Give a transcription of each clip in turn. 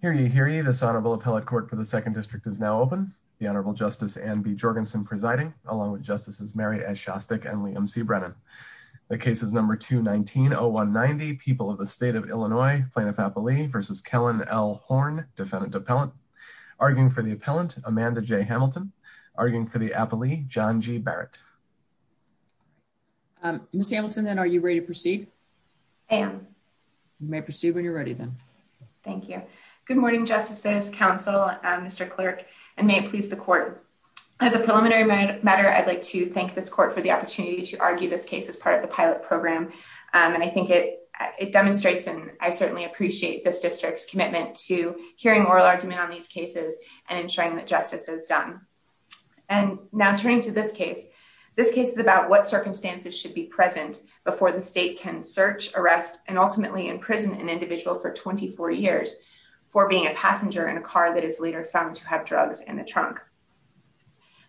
here. You hear you. This honorable appellate court for the Second District is now open. The Honorable Justice and B. Jorgensen presiding along with Justices Mary S. Shostak and Liam C. Brennan. The case is number two 19 oh one 90 people of the state of Illinois plaintiff appellee versus Kellen L. Horn, defendant appellant arguing for the appellant Amanda J. Hamilton arguing for the appellee John G. Barrett. Um, Miss Hamilton, then are you ready to proceed? And you may proceed when you're ready, then. Thank you. Good morning, Justices Council, Mr Clerk and may it please the court. As a preliminary matter, I'd like to thank this court for the opportunity to argue this case as part of the pilot program. And I think it demonstrates and I certainly appreciate this district's commitment to hearing oral argument on these cases and ensuring that justice is done. And now turning to this case. This case is about what circumstances should be present before the state can search arrest and ultimately in prison an individual for 24 years for being a passenger in a car that is later found to have drugs in the trunk.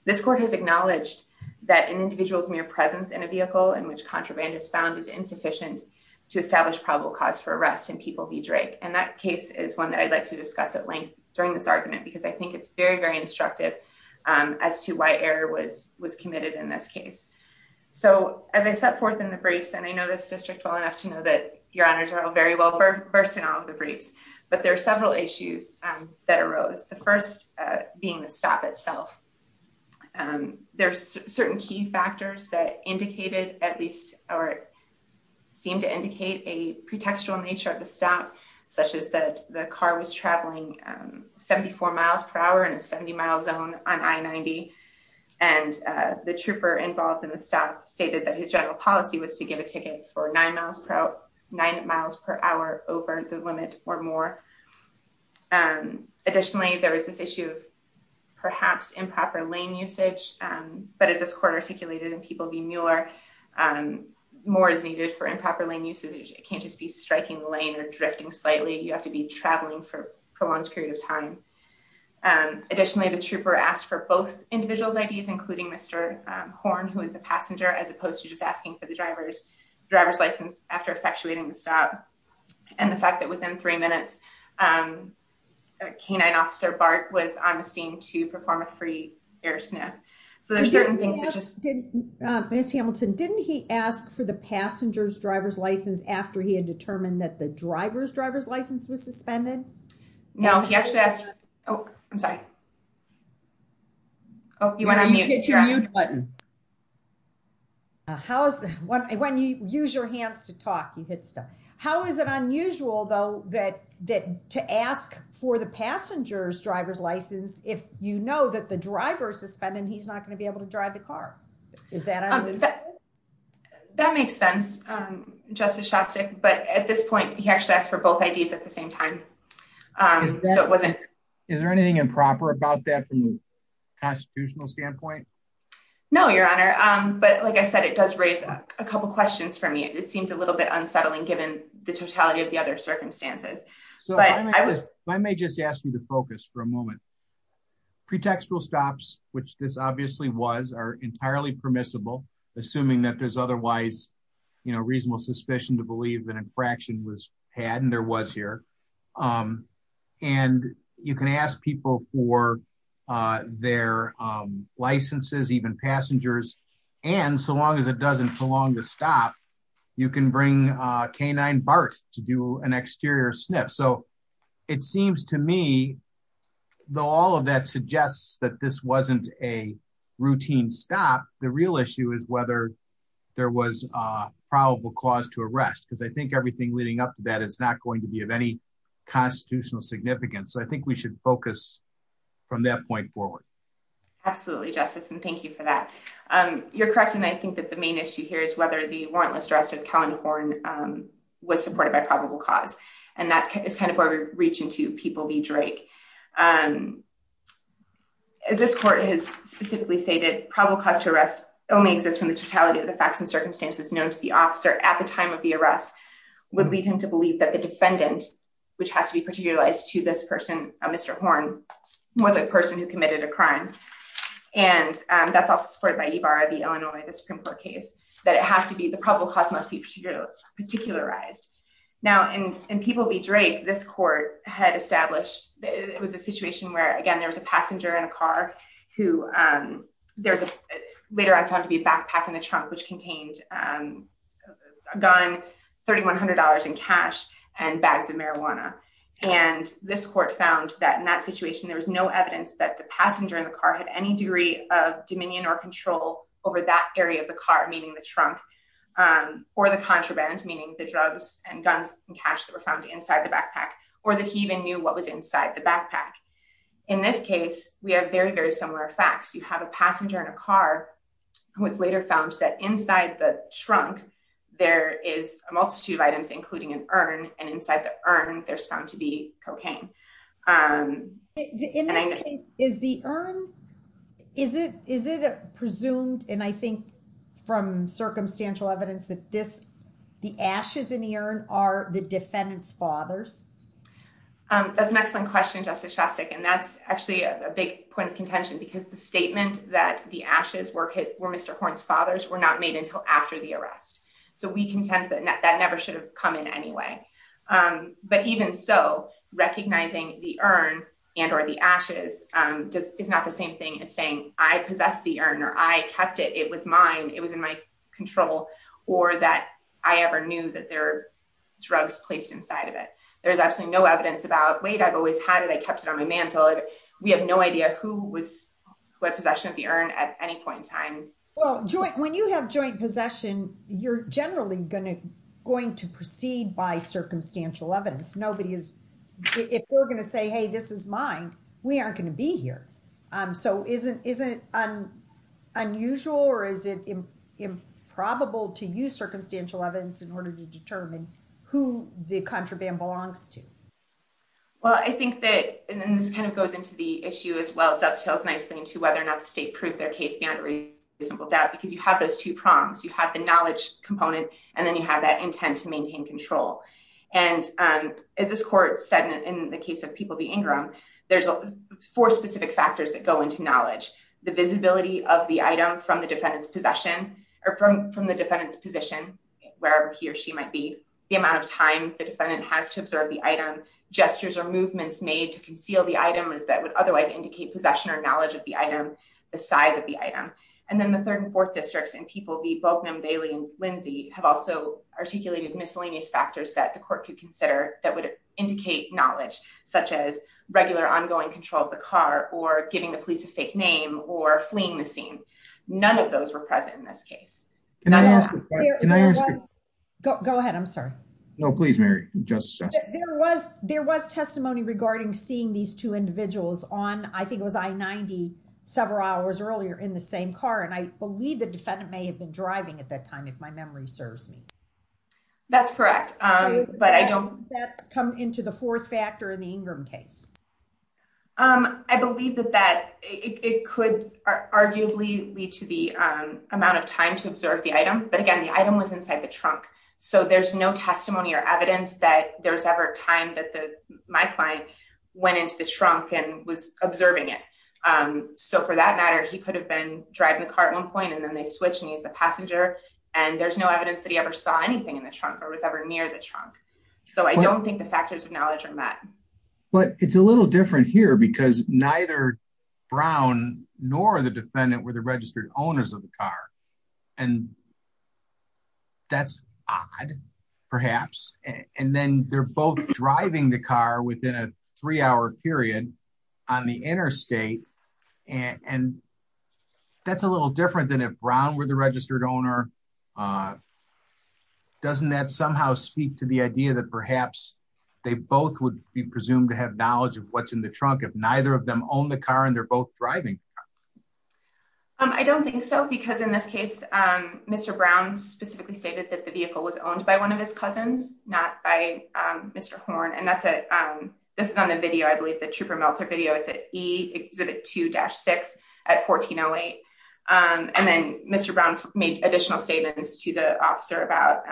This court has acknowledged that an individual's mere presence in a vehicle in which contraband is found is insufficient to establish probable cause for arrest and people be Drake. And that case is one that I'd like to discuss at length during this argument, because I think it's very, very instructive as to why error was was committed in this case. So as I set forth in the briefs, and I know this district well enough to know that your honors are all very well first in all of the briefs, but there are several issues that arose, the first being the stop itself. There's certain key factors that indicated at least or seem to indicate a pretextual nature of the stop, such as that the car was traveling 74 miles per hour in a 70 mile zone on I 90. And the trooper involved in the stop stated that his general policy was to give a ticket for nine miles per hour, nine miles per hour over the limit or more. And additionally, there was this issue of perhaps improper lane usage. But as this court articulated and people be Mueller, more is needed for improper lane usage, it can't just be striking lane or drifting slightly, you have to be traveling for prolonged period of time. And additionally, the trooper asked for both individuals IDs, including Mr. Horn, who is a passenger as opposed to just asking for the driver's driver's license after effectuating the stop. And the fact that within three minutes, canine officer Bart was on the scene to perform a free air sniff. So there's certain things did miss Hamilton, didn't he ask for the passenger's driver's license after he had determined that the driver's driver's license was suspended? No, he actually asked. Oh, I'm sorry. Oh, you want to hit your button? How's the one when you use your hands to talk, you hit stuff? How is it unusual, though, that that to ask for the passenger's driver's license, if you know that the driver suspended, he's not going to be able to drive the car? Is that? That makes sense. Justice Shostak. But at this point, he actually asked for both IDs at the same time. So it wasn't, is there anything improper about that from a constitutional standpoint? No, Your Honor. But like I said, it does raise a couple questions for me, it seems a little bit unsettling, given the totality of the other circumstances. So I was, I may just ask you to focus for a moment. pretextual stops, which this obviously was are entirely permissible, assuming that there's otherwise, you know, reasonable suspicion to believe that infraction was had and there was here. And you can ask people for their licenses, even passengers. And so long as it doesn't belong to stop, you can bring canine BART to do an exterior sniff. So it seems to me, though, all of that suggests that this wasn't a routine stop, the real issue is whether there was a probable cause to arrest, because I think everything leading up to that is not going to be of any constitutional significance. I think we should focus from that point forward. Absolutely, Justice, and thank you for that. You're correct. And I think that the main issue here is whether the warrantless arrest of Callan Horne was supported by probable cause. And that is kind of where we reach into People v. Drake. As this court has specifically stated, probable cause to arrest only exists from the totality of the facts and circumstances known to the officer at the time of the arrest would lead him to believe that the defendant, which has to be particularized to this person, Mr. Horne, was a person who committed a crime. And that's also supported by Ibarra v. Illinois, the Supreme Court case, that it has to be, the probable cause must be particularized. Now, in People v. Drake, this court had established, it was a situation where, again, there was a passenger in a car who there's a, later on found to be a backpack in the trunk, which contained a gun, $3,100 in cash, and bags of marijuana. And this court found that in that situation, there was no evidence that the passenger in the car had any degree of dominion or control over that area of the car, meaning the trunk, or the contraband, meaning the drugs and guns and cash that were found inside the backpack, or that he even knew what was inside the backpack. In this case, we have very, very similar facts. You have a passenger in a car who was later found that inside the trunk, there is a multitude of items, including an urn, and inside the urn, there's found to be cocaine. In this case, is the urn, is it presumed, and I think, from circumstantial evidence, that the ashes in the urn are the defendant's fathers? That's an excellent question, Justice Shostak, and that's actually a big point of contention, because the statement that the ashes were Mr. Horn's father's were not made until after the recognizing the urn and or the ashes is not the same thing as saying, I possessed the urn, or I kept it, it was mine, it was in my control, or that I ever knew that there were drugs placed inside of it. There's absolutely no evidence about, wait, I've always had it, I kept it on my mantle. We have no idea who had possession of the urn at any point in time. Well, when you have joint possession, you're generally going to proceed by circumstantial evidence. Nobody is, if we're going to say, hey, this is mine, we aren't going to be here. So, isn't it unusual, or is it improbable to use circumstantial evidence in order to determine who the contraband belongs to? Well, I think that, and then this kind of goes into the issue as well, dovetails nicely into whether or not the state proved their case beyond reasonable doubt, because you have those two prongs. You have the knowledge component, and then you have that intent to maintain control. And as this court said, in the case of People v. Ingram, there's four specific factors that go into knowledge. The visibility of the item from the defendant's possession, or from the defendant's position, wherever he or she might be, the amount of time the defendant has to observe the item, gestures or movements made to conceal the item that would otherwise indicate possession or knowledge of the item, the size of the item. And then the third and fourth districts in People v. Boaknum, Bailey, and Lindsay have also articulated miscellaneous factors that the court could consider that would indicate knowledge, such as regular ongoing control of the car, or giving the police a fake name, or fleeing the scene. None of those were present in this case. Go ahead, I'm sorry. No, please, Mary. There was testimony regarding seeing these two individuals on, I think it was I-90, several hours earlier in the same car. And I believe the defendant may have been driving at that time, if my memory serves me. That's correct, but I don't... Does that come into the fourth factor in the Ingram case? I believe that it could arguably lead to the amount of time to observe the item. But again, the item was inside the trunk. So there's no testimony or evidence that there was ever a time that my client went into the trunk and was observing it. So for that matter, he could have been driving the car at one point, and then they switched and he was the passenger. And there's no evidence that he ever saw anything in the trunk or was ever near the trunk. So I don't think the factors of knowledge are met. But it's a little different here, because neither Brown nor the defendant were the That's odd, perhaps. And then they're both driving the car within a three-hour period on the interstate. And that's a little different than if Brown were the registered owner. Doesn't that somehow speak to the idea that perhaps they both would be presumed to have knowledge of what's in the trunk if neither of them own the car and they're both driving? I don't think so. Because in this case, Mr. Brown specifically stated that the vehicle was owned by one of his cousins, not by Mr. Horn. And that's a, this is on the video, I believe, the Trooper Meltzer video, it's at E Exhibit 2-6 at 1408. And then Mr. Brown made additional statements to the officer about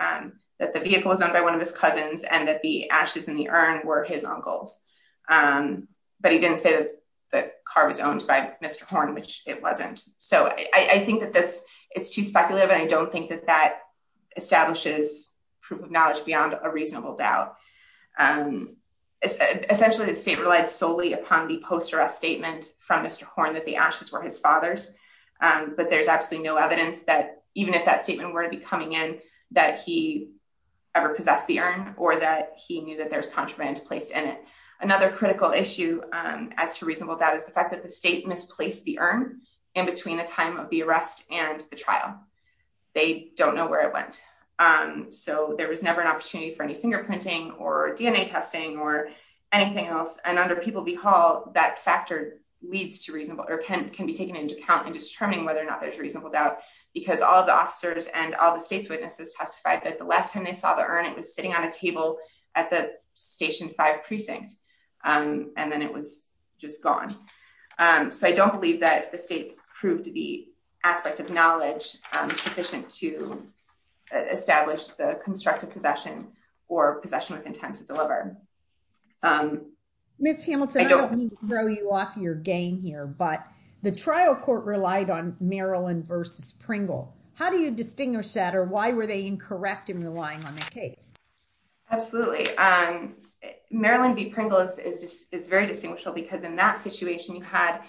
that the vehicle was owned by one of his cousins and that the ashes in the urn were his uncle's. But he didn't say that the car was owned by Mr. Horn. Which it wasn't. So I think that this, it's too speculative. And I don't think that that establishes proof of knowledge beyond a reasonable doubt. Essentially, the state relied solely upon the post-arrest statement from Mr. Horn that the ashes were his father's. But there's absolutely no evidence that even if that statement were to be coming in, that he ever possessed the urn or that he knew that there's contraband placed in it. Another critical issue as to reasonable doubt is the fact that the state misplaced the urn in between the time of the arrest and the trial. They don't know where it went. So there was never an opportunity for any fingerprinting or DNA testing or anything else. And under People v. Hall, that factor leads to reasonable, or can be taken into account in determining whether or not there's reasonable doubt. Because all of the officers and all the state's witnesses testified that the last time they saw the urn, it was sitting on a table at the Station 5 precinct. And then it was just gone. So I don't believe that the state proved the aspect of knowledge sufficient to establish the constructive possession or possession with intent to deliver. Miss Hamilton, I don't mean to throw you off your game here, but the trial court relied on the case. Absolutely. Marilyn v. Pringle is very distinguishable because in that situation, the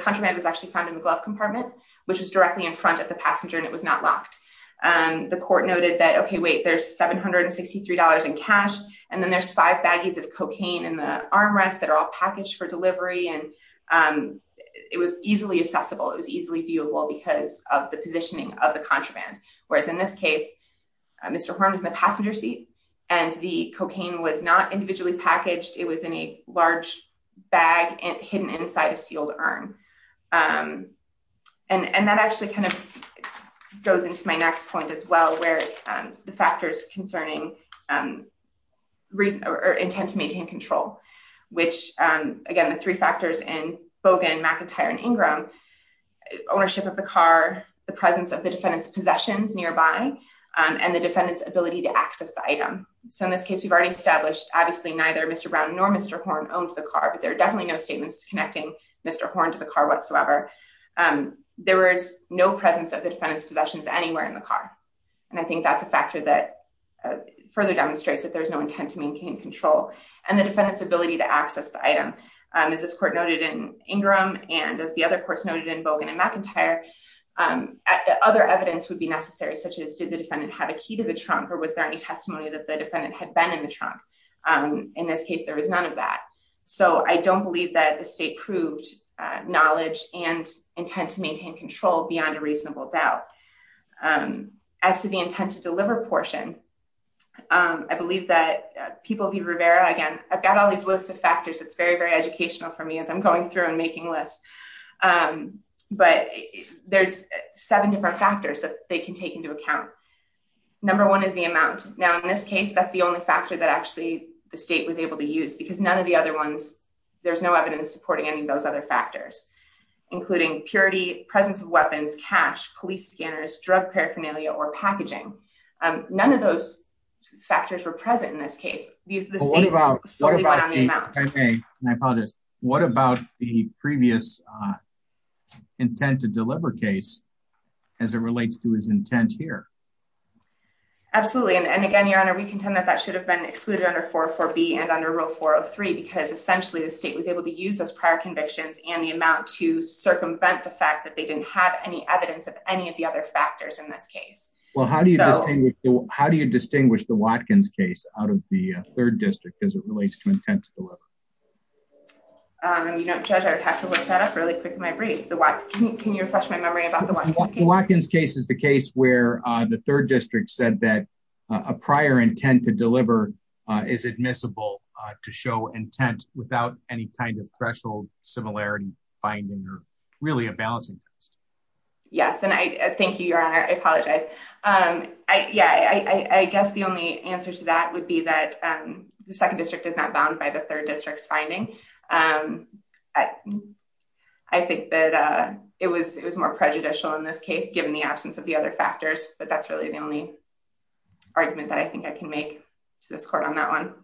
contraband was actually found in the glove compartment, which was directly in front of the passenger and it was not locked. The court noted that, okay, wait, there's $763 in cash. And then there's five baggies of cocaine in the armrest that are all packaged for delivery. And it was easily accessible. It was easily viewable because of the positioning of the contraband. Whereas in this case, Mr. Horn was in the passenger seat and the cocaine was not individually packaged. It was in a large bag and hidden inside a sealed arm. And that actually kind of goes into my next point as well, where the factors concerning intent to maintain control, which again, the three factors in Bogan, McIntyre, and Ingram, ownership of the car, the presence of the defendant's possessions nearby, and the defendant's ability to access the item. So in this case, we've already established obviously neither Mr. Brown nor Mr. Horn owned the car, but there are definitely no statements connecting Mr. Horn to the car whatsoever. There was no presence of the defendant's possessions anywhere in the car. And I think that's a factor that further demonstrates that there's no intent to access the item. As this court noted in Ingram, and as the other courts noted in Bogan and McIntyre, other evidence would be necessary, such as did the defendant have a key to the trunk, or was there any testimony that the defendant had been in the trunk? In this case, there was none of that. So I don't believe that the state proved knowledge and intent to maintain control beyond a reasonable doubt. As to the intent to deliver portion, I believe that people be again, I've got all these lists of factors. It's very, very educational for me as I'm going through and making lists. But there's seven different factors that they can take into account. Number one is the amount. Now, in this case, that's the only factor that actually the state was able to use because none of the other ones, there's no evidence supporting any of those other factors, including purity, presence of weapons, cash, police scanners, drug paraphernalia, or what about the previous intent to deliver case as it relates to his intent here? Absolutely. And again, Your Honor, we contend that that should have been excluded under 404B and under Rule 403, because essentially, the state was able to use those prior convictions and the amount to circumvent the fact that they didn't have any evidence of any of the other factors in this case. Well, how do you distinguish the Watkins case out of the third district as it relates to intent to deliver? You know, Judge, I would have to look that up really quick in my brief. Can you refresh my memory about the Watkins case? The Watkins case is the case where the third district said that a prior intent to deliver is admissible to show intent without any kind of threshold similarity finding or really a balancing act. Yes. And I thank you, Your Honor. I apologize. I guess the only answer to that would be that the second district is not bound by the third district's finding. I think that it was more prejudicial in this case, given the absence of the other factors, but that's really the only argument that I think I can make to this court on that one.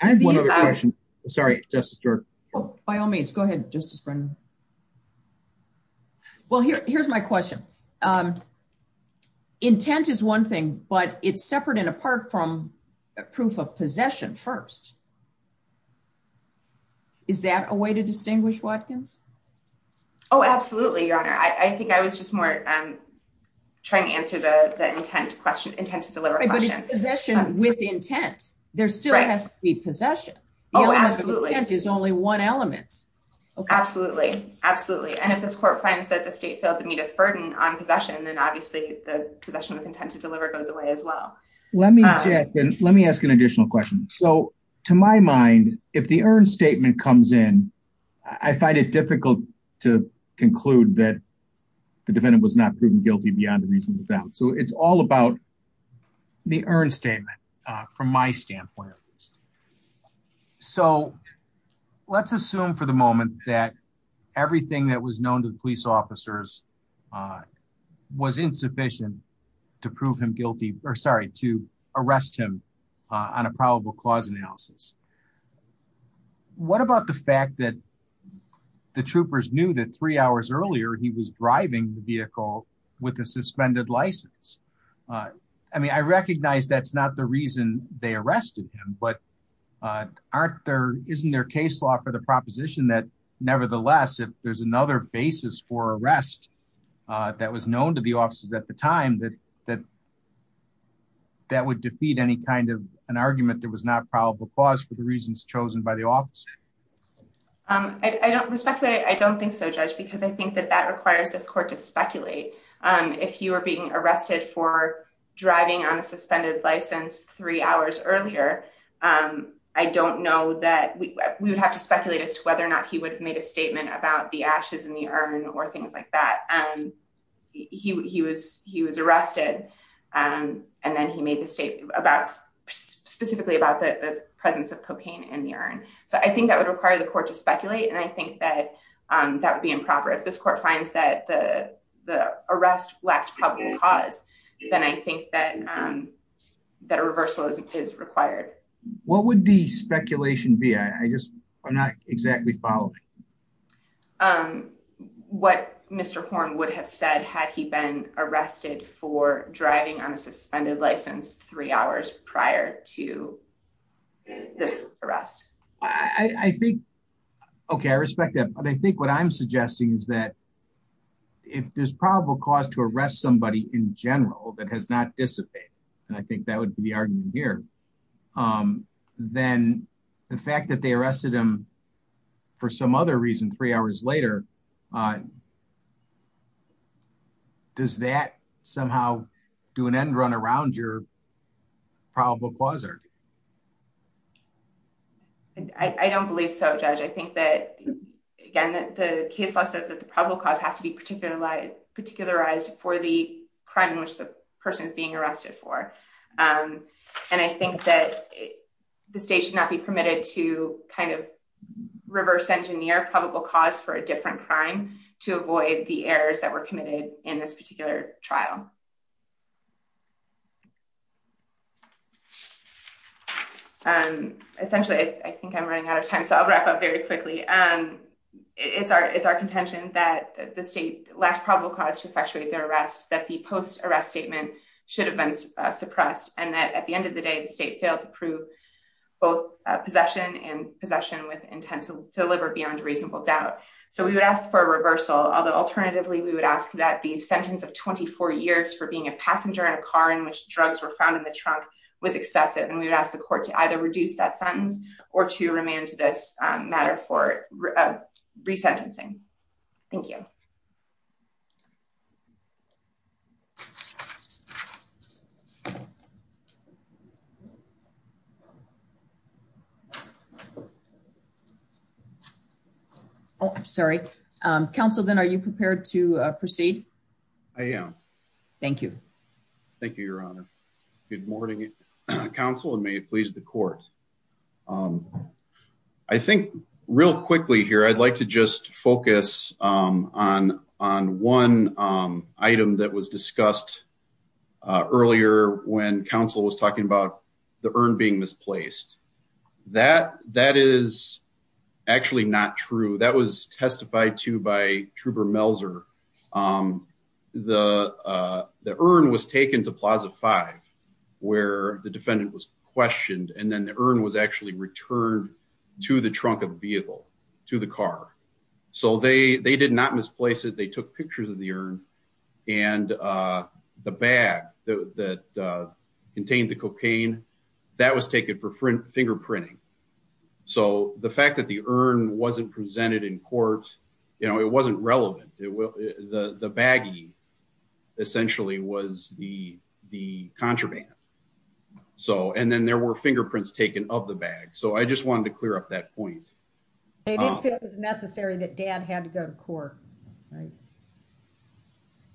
I have one other question. Sorry, Justice George. Oh, by all means, go ahead, Justice Brennan. Well, here's my question. Intent is one thing, but it's separate and apart from proof of possession first. Is that a way to distinguish Watkins? Oh, absolutely, Your Honor. I think I was just more trying to answer the intent question, intent to deliver possession with intent. There still has to be possession. Oh, absolutely. Intent is only one element. Absolutely. Absolutely. And if this court finds that the state failed to meet its burden on possession, then obviously the possession with intent to deliver goes away as well. Let me ask an additional question. So to my mind, if the earned statement comes in, I find it difficult to conclude that the defendant was not proven guilty beyond a reasonable doubt. It's all about the earned statement from my standpoint. So let's assume for the moment that everything that was known to the police officers was insufficient to arrest him on a probable cause analysis. What about the fact that the troopers knew that three hours earlier, he was driving the vehicle with a suspended license? I mean, I recognize that's not the reason they arrested him, but aren't there, isn't there case law for the proposition that nevertheless, if there's another basis for arrest that was known to the officers at the time that would defeat any kind of an argument that was not probable cause for the reasons chosen by the state? I don't respect that. I don't think so, judge, because I think that that requires this court to speculate. If you are being arrested for driving on a suspended license three hours earlier, I don't know that we would have to speculate as to whether or not he would have made a statement about the ashes in the urn or things like that. He was arrested and then he made the state about specifically about the presence of cocaine in the urn. So I think that would require the court to speculate. And I think that that would be improper. If this court finds that the arrest lacked probable cause, then I think that that a reversal is required. What would the speculation be? I just, I'm not exactly following. What Mr. Horn would have said had he been arrested for driving on a suspended license three hours prior to this arrest? I think, okay, I respect that. But I think what I'm suggesting is that if there's probable cause to arrest somebody in general that has not dissipated, and I think that would be the argument here, then the fact that they arrested him for some other reason, three hours later, does that somehow do an end run around your probable causer? I don't believe so, Judge. I think that, again, that the case law says that the probable cause has to be particularized for the crime in which the person is being arrested for. And I think that the state should not be permitted to kind of reverse engineer probable cause for a different crime to avoid the errors that were committed in this particular trial. Essentially, I think I'm running out of time, so I'll wrap up very quickly. It's our contention that the state lacked probable cause to effectuate their arrest, that the post-arrest statement should have been suppressed, and that at the end of the day, the state failed to prove both possession and possession with intent to deliver beyond reasonable doubt. So we would ask for a reversal, although alternatively, we would ask that the sentence of 24 years for being a passenger in a car in which drugs were found in the trunk was excessive, and we would ask the court to either reduce that sentence or to remand this matter for resentencing. Thank you. Oh, sorry. Counsel, then are you prepared to proceed? I am. Thank you. Thank you, Your Honor. Good morning, Counsel, and may it please the court. I think real quickly here, I'd like to just focus on one item that was discussed earlier when Counsel was talking about the urn being misplaced. That is actually not true. That was testified to by Trouber-Melzer. The urn was taken to Plaza 5 where the defendant was questioned, and then the urn was actually returned to the trunk of the vehicle, to the car. So they did not misplace it. They took pictures of the urn, and the bag that contained the cocaine, that was taken for fingerprinting. So the fact that the urn wasn't presented in court, it wasn't relevant. The baggie essentially was the contraband. So, and then there were fingerprints taken of the bag. So I just wanted to clear up that point. They didn't feel it was necessary that Dad had to go to court, right?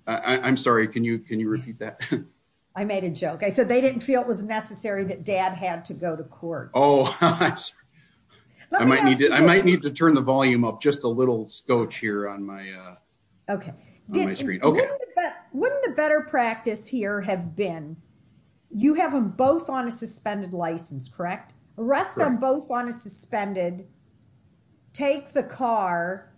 I'm sorry, can you repeat that? I made a joke. I said they didn't feel it was necessary that Dad had to go to court. Oh, I might need to turn the volume up just a little scotch here on my screen. Wouldn't the better practice here have been, you have them both on a suspended license, correct? Arrest them both on a suspended, take the car,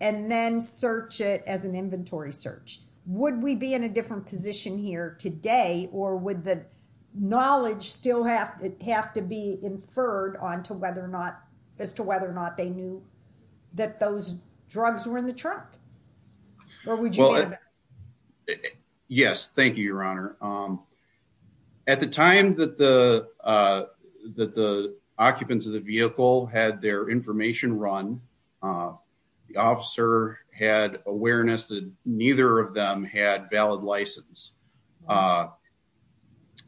and then search it as an inventory search. Would we be in a different position here today, or would the knowledge still have to be inferred as to whether or not they knew that those drugs were in the truck? Or would you be in a better position? Yes, thank you, Your Honor. At the time that the occupants of the vehicle had their information run, the officer had awareness that neither of them had valid license.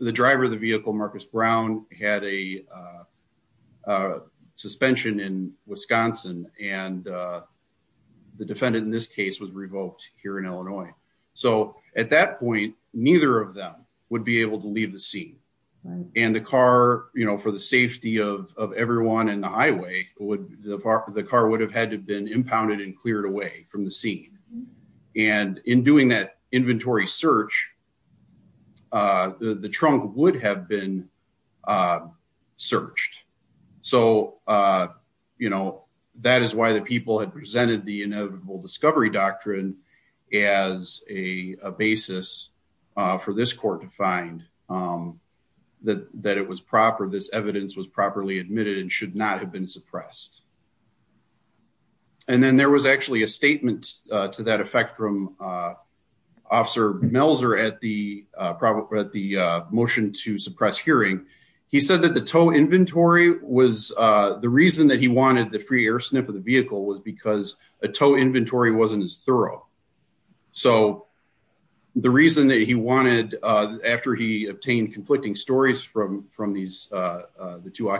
The driver of the vehicle, Marcus Brown, had a suspension in Wisconsin, and the defendant in this case was revoked here in Illinois. So at that point, neither of them would be able to leave the scene. And the car, for the safety of everyone in the highway, the car would have had to have been impounded and searched. So that is why the people had presented the inevitable discovery doctrine as a basis for this court to find that this evidence was properly admitted and should not have been suppressed. And then there was actually a statement to that effect from Officer Melzer at the motion to suppress hearing. He said that the tow inventory was, the reason that he wanted the free air sniff of the vehicle was because a tow inventory wasn't as thorough. So the reason that he wanted, after he obtained conflicting stories from the two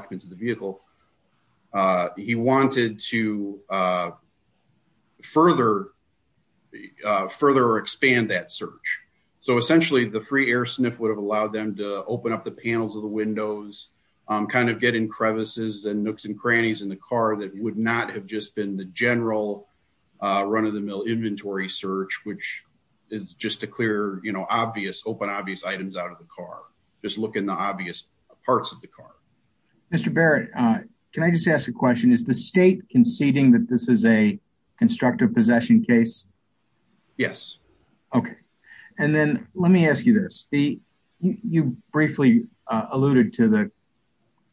search. So essentially the free air sniff would have allowed them to open up the panels of the windows, kind of get in crevices and nooks and crannies in the car that would not have just been the general run-of-the-mill inventory search, which is just to clear, you know, obvious, open obvious items out of the car. Just look in the obvious parts of the car. Mr. Barrett, can I just ask a question? Is the state conceding that this is a instructive possession case? Yes. Okay. And then let me ask you this. You briefly alluded to the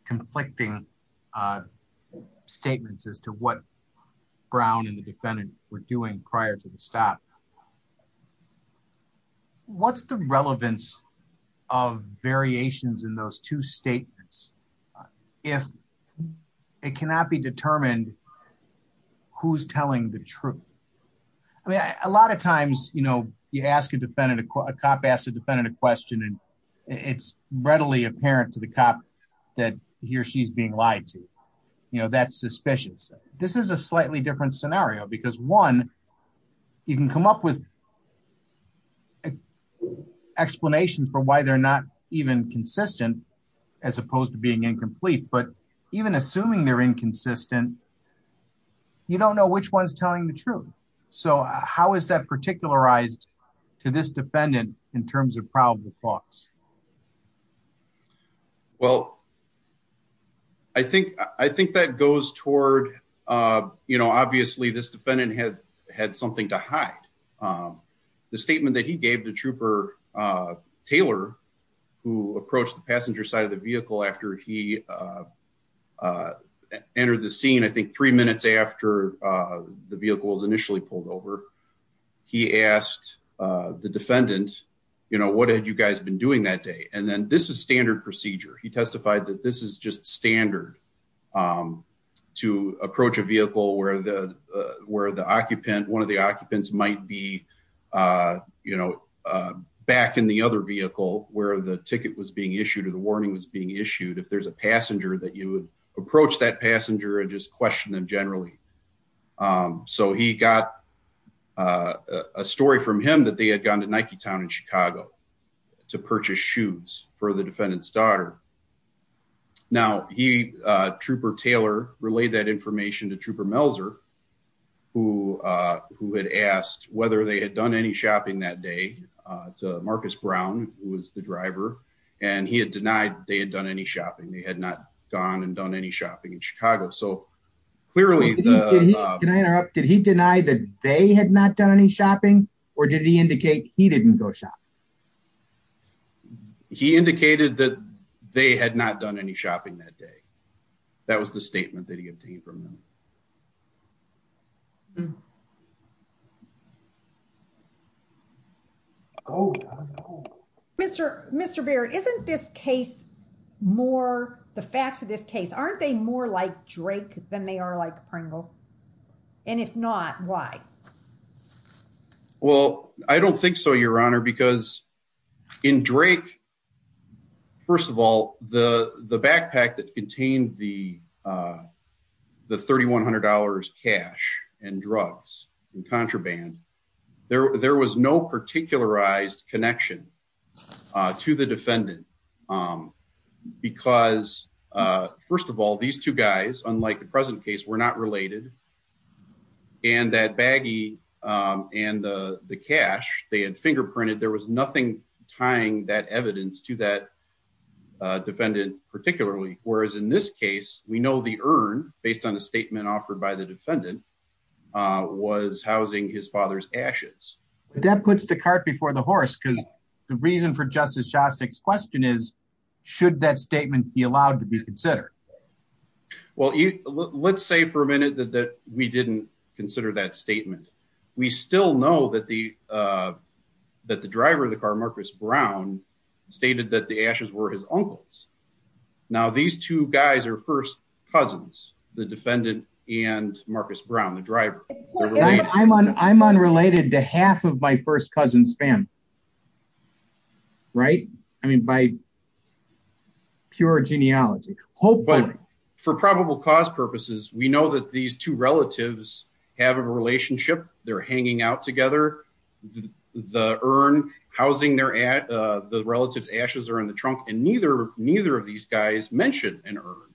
conflicting statements as to what Brown and the defendant were doing prior to the stop. What's the relevance of variations in those two statements? If it cannot be determined who's telling the truth. I mean, a lot of times, you know, you ask a defendant, a cop asked a defendant a question and it's readily apparent to the cop that he or she's being lied to, you know, that's suspicious. This is a slightly different scenario because one, you can come up with explanations for why they're not even consistent as opposed to being incomplete, but even assuming they're inconsistent, you don't know which one's telling the truth. So how is that particularized to this defendant in terms of probable thoughts? Well, I think that goes toward, you know, obviously this defendant had something to hide. The statement that he gave the trooper, Taylor, who approached the passenger side of the vehicle after he entered the scene, I think three minutes after the vehicle was initially pulled over, he asked the defendant, you know, what had you guys been doing that day? And then this is standard procedure. He testified that this is just standard to approach a vehicle where the, where the occupant, one of the occupants might be, you know, back in the other vehicle where the if there's a passenger that you would approach that passenger and just question them generally. So he got a story from him that they had gone to Nike town in Chicago to purchase shoes for the defendant's daughter. Now he, trooper Taylor relayed that information to trooper Melzer, who, who had asked whether they had done any shopping that day to Marcus Brown, who was the driver. And he had denied they had done any shopping. They had not gone and done any shopping in Chicago. So clearly. Did he deny that they had not done any shopping or did he indicate he didn't go shop? He indicated that they had not done any shopping that day. That was the statement that he obtained from them. Oh, Mr. Mr. Barrett, isn't this case more the facts of this case? Aren't they more like Drake than they are like Pringle? And if not, why? Well, I don't think so your honor, because in Drake, first of all, the, the backpack that contained the the $3,100 cash and drugs and contraband there, there was no particularized connection to the defendant. Because first of all, these two guys, unlike the present case were not related and that baggie and the cash they had fingerprinted, there was nothing tying that evidence to that defendant, particularly, whereas in this case, we know the urn based on the statement offered by the defendant was housing his father's ashes. That puts the cart before the horse. Because the reason for Justice Shostak's question is, should that statement be allowed to be considered? Well, let's say for a minute that that we didn't consider that statement. We still know that the, that the driver of the car, Marcus Brown, stated that the ashes were his uncle's. Now, these two guys are first cousins, the defendant and Marcus Brown, the driver. I'm unrelated to half of my first cousin's family. Right? I mean, by pure genealogy, hopefully. But for probable cause purposes, we know that these two relatives have a relationship, they're hanging out together, the urn, housing their, the relative's ashes are in the trunk, and neither, neither of these guys mentioned an urn.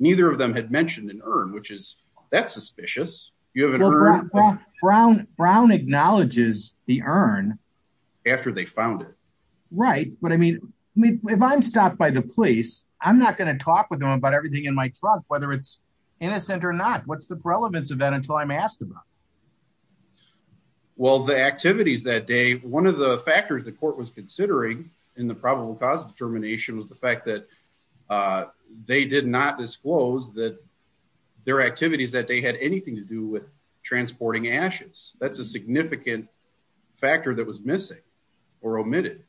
Neither of them had mentioned an urn, which is, that's suspicious. You have an urn. Brown, Brown acknowledges the urn. After they found it. Right. But I mean, if I'm stopped by the police, I'm not going to talk with them about everything in my trunk, whether it's innocent or not. What's the relevance of that until I'm asked about? Well, the activities that day, one of the factors the court was considering in the probable cause determination was the fact that they did not disclose that their activities that day had anything to do with transporting ashes. That's a significant factor that was missing or omitted.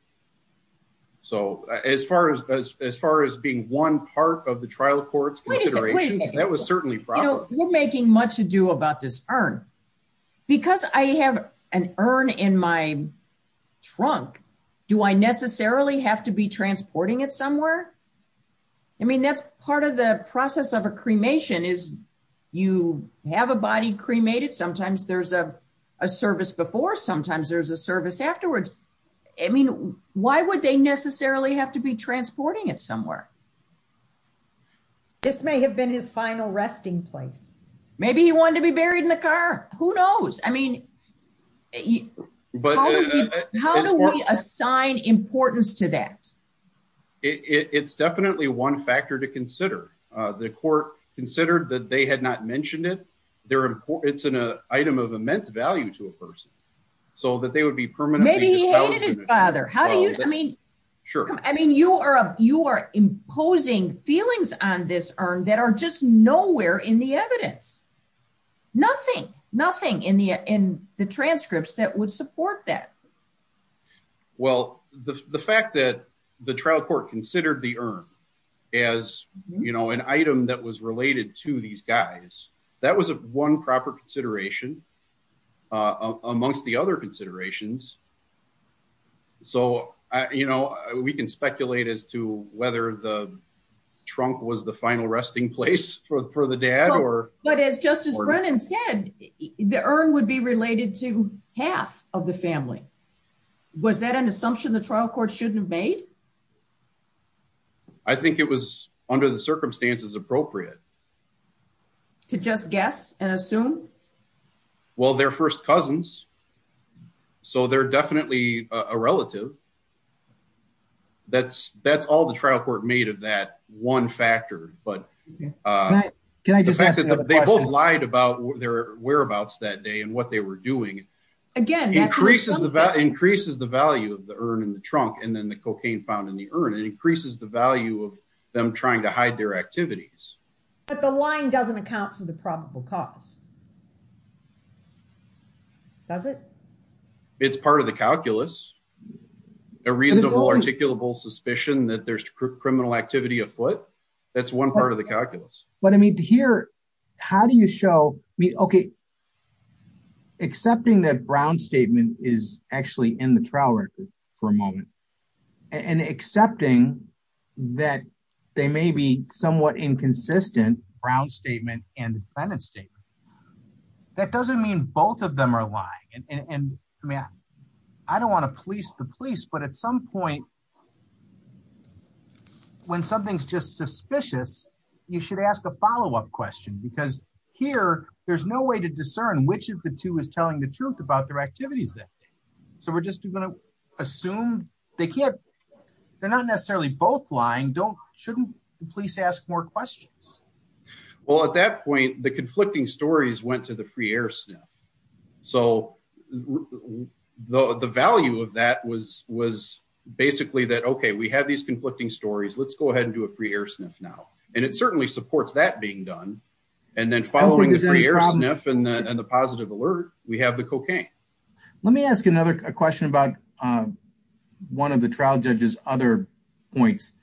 So as far as, as far as being one part of the trial court's consideration, that was certainly probable. We're making much ado about this urn. Because I have an urn in my trunk, do I necessarily have to be transporting it somewhere? I mean, that's part of the process of a cremation is you have a body cremated. Sometimes there's a service before, sometimes there's a service afterwards. I mean, why would they necessarily have to be transporting it somewhere? This may have been his final resting place. Maybe he wanted to be buried in the car. Who knows? I mean, how do we assign importance to that? It's definitely one factor to consider. The court considered that they had not mentioned it. They're important. It's an item of immense value to a person. So that they would be permanently. Maybe he hated his father. How do you, I mean, sure. I mean, you are, you are imposing feelings on this urn that are just nowhere in the evidence. Nothing, nothing in the, in the transcripts that would support that. Well, the fact that the trial court considered the urn as, you know, an item that was related to these guys, that was one proper consideration. Amongst the other considerations. So, you know, we can speculate as to whether the trunk was the final resting place for the dad or. But as Justice Brennan said, the urn would be related to half of the family. Was that an assumption the trial court shouldn't have made? I think it was under the circumstances appropriate. To just guess and assume. Well, their first cousins. So they're definitely a relative. That's, that's all the trial court made of that one factor. But can I just ask, they both lied about their whereabouts that day and what they were doing. Again, increases the value of the urn in the trunk and then the cocaine found in the urn. It increases the value of them trying to hide their activities. But the lying doesn't account for the probable cause. Does it? It's part of the calculus. A reasonable articulable suspicion that there's criminal activity afoot. That's one part of the calculus. But I mean, here, how do you show, I mean, okay, accepting that Brown's statement is actually in the trial record for a moment, and accepting that they may be somewhat inconsistent, Brown's statement and Brennan's statement. That doesn't mean both of them are lying. And I mean, I don't want to police the police, but at some point, when something's just suspicious, you should ask a follow-up question. Because here, there's no way to discern which of the two is telling the truth about their activities that day. So we're just going to assume they can't, they're not necessarily both lying. Don't, shouldn't the police ask more questions? Well, at that point, the conflicting stories went to the free air sniff. So the value of that was basically that, okay, we have these conflicting stories. Let's go ahead and do a free air sniff now. And it certainly supports that being done. And then following the free air sniff and the positive alert, we have the cocaine. Let me ask another question about one of the trial judge's other points.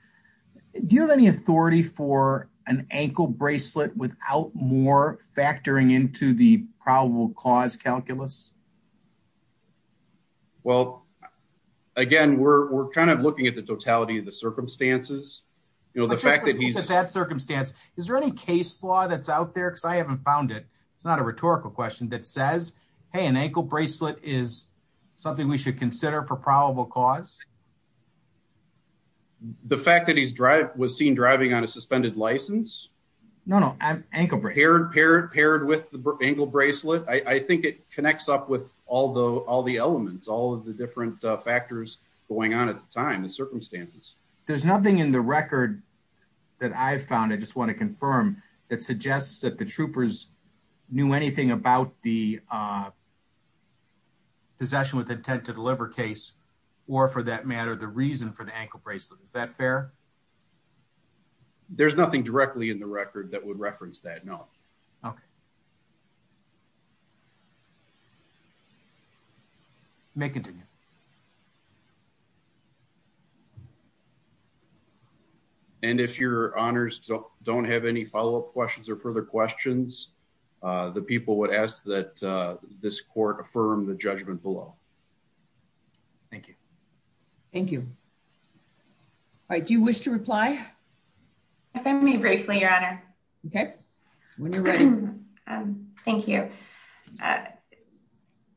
Do you have any authority for an ankle bracelet without more factoring into the probable cause calculus? Well, again, we're kind of looking at the totality of the circumstances, you know, the fact that he's... That circumstance, is there any case law that's out there? Because I haven't found it. It's not a rhetorical question that says, hey, an ankle bracelet is something we should consider for probable cause. The fact that he's driving, was seen driving on a suspended license. No, no. Ankle bracelet. Paired with the ankle bracelet. I think it connects up with all the elements, all of the different factors going on at the time and circumstances. There's nothing in the record that I've found, I just want to confirm, that suggests that the troopers knew anything about the possession with intent to deliver case, or for that matter, the reason for the ankle bracelet. Is that fair? There's nothing directly in the record that would reference that, no. Okay. You may continue. And if your honors don't have any follow-up questions or further questions, the people would ask that this court affirm the judgment below. Thank you. Thank you. All right, do you wish to reply? If I may briefly, your honor. Okay, when you're ready. Thank you.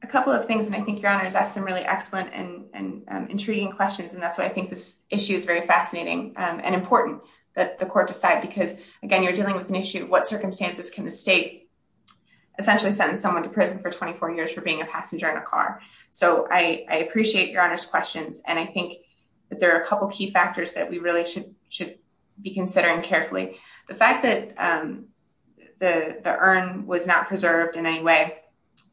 A couple of things, and I think your honors asked some really excellent and intriguing questions, and that's why I think this issue is very fascinating and important that the court decide, because again, you're dealing with an issue, what circumstances can the state essentially sentence someone to prison for 24 years for being a passenger in a car? So I appreciate your honors questions, and I think that there are a couple key factors that we really should be considering carefully. The fact that the urn was not preserved in any way,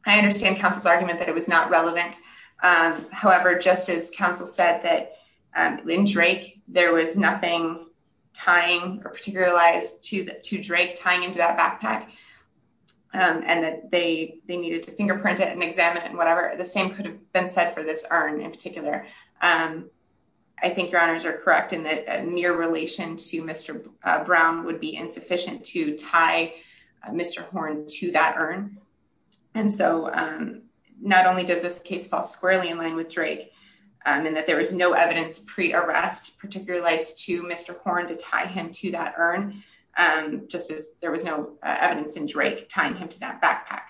I understand counsel's argument that it was not relevant. However, just as counsel said that in Drake, there was nothing tying or particular lies to Drake tying into that backpack, and that they needed to fingerprint it and examine it and whatever. The same could have been said for this urn in particular. I think your honors are correct in that near relation to Mr. Brown would be insufficient to tie Mr. Horn to that urn. And so not only does this case fall squarely in line with Drake, and that there was no evidence pre-arrest, particular lies to Mr. Horn to tie him to that urn, just as there was no evidence in Drake tying him to that backpack.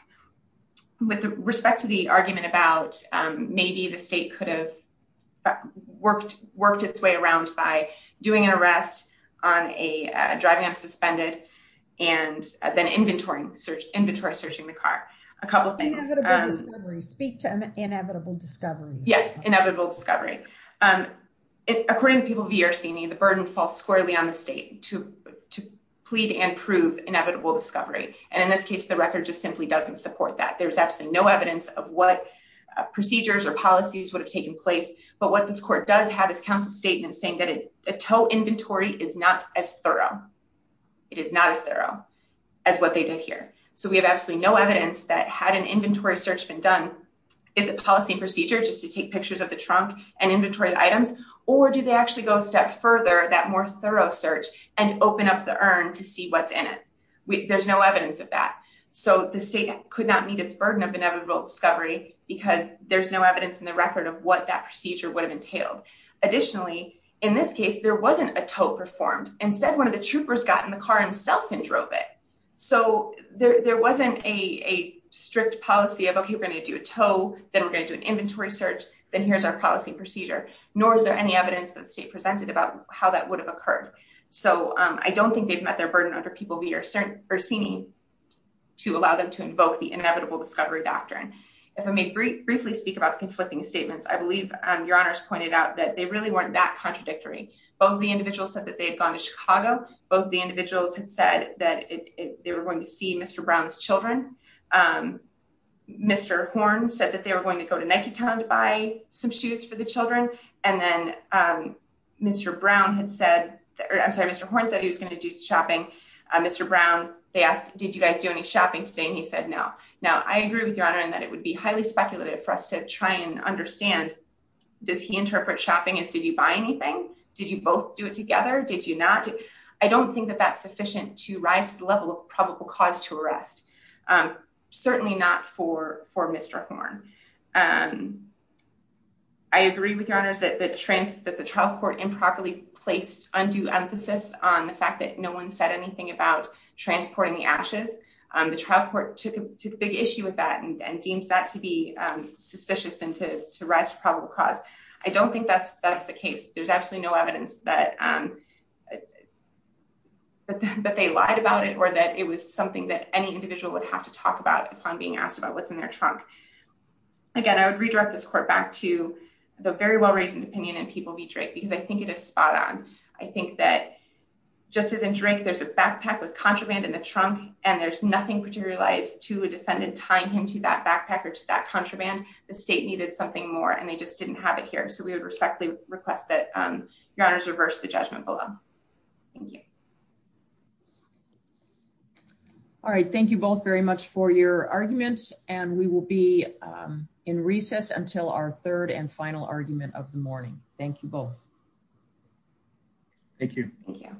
With respect to the argument about maybe the state could have worked its way around by doing an arrest on a driving off suspended, and then inventory searching the car, a couple of things. Inevitable discovery, speak to inevitable discovery. Yes, inevitable discovery. According to people VRC-ing, the burden falls squarely on the state to plead and prove inevitable discovery. And in this case, the record just simply doesn't support that. There's absolutely no evidence of what procedures or policies would have taken place, but what this court does have is counsel's statement saying that a tow inventory is not as thorough. It is not as thorough as what they did here. So we have absolutely no evidence that had an inventory search been done, is it policy and procedure just to take pictures of the trunk and inventory items? Or do they actually go a step further, that more thorough search, and open up the urn to see what's in it? There's no evidence of that. So the state could not meet its burden of inevitable discovery because there's no evidence in the record of what that procedure would have entailed. Additionally, in this case, there wasn't a tow performed. Instead, one of the troopers got in the car himself and drove it. So there wasn't a strict policy of, okay, we're going to do a tow, then we're going to do an inventory search, then here's our policy and procedure, nor is there any evidence that the state presented about how that would have occurred. So I don't think they've met their burden under people VRC-ing to allow them to invoke the inevitable discovery doctrine. If I may briefly speak about the conflicting statements, I believe Your Honor's pointed out that they really weren't that contradictory. Both the individuals said that they had gone to Chicago. Both the individuals had said that they were going to see Mr. Brown's children. Mr. Horn said that they were going to go to Niketown to buy some shoes for the children. And then Mr. Brown had said, I'm sorry, Mr. Horn said he was going to do shopping. Mr. Brown, they asked, did you guys do any shopping today? And he said, no. Now, I agree with Your Honor in that it would be highly speculative for us to try and understand, does he interpret shopping as did you buy anything? Did you both do it together? Did you not? I don't think that that's sufficient to rise the level of probable cause to arrest. Certainly not for Mr. Horn. I agree with Your Honor that the trial court improperly placed undue emphasis on the fact that no one said anything about transporting the ashes. The trial court took a big issue with that and deemed that to be suspicious and to rise to probable cause. I don't think that's the case. There's absolutely no evidence that they lied about it or that it was something that any individual would have to talk about upon being asked about what's in their trunk. Again, I would redirect this court back to the very well-raised opinion in People v. Drake because I think it is spot on. I think that just as in Drake, there's a backpack with contraband in the trunk and there's nothing materialized to a defendant tying him to that backpack or to that contraband. The state needed something more and they just didn't have it here. So we would respectfully request that Your Honors reverse the judgment below. Thank you. All right. Thank you both very much for your arguments. And we will be in recess until our third and final argument of the morning. Thank you both. Thank you. Thank you.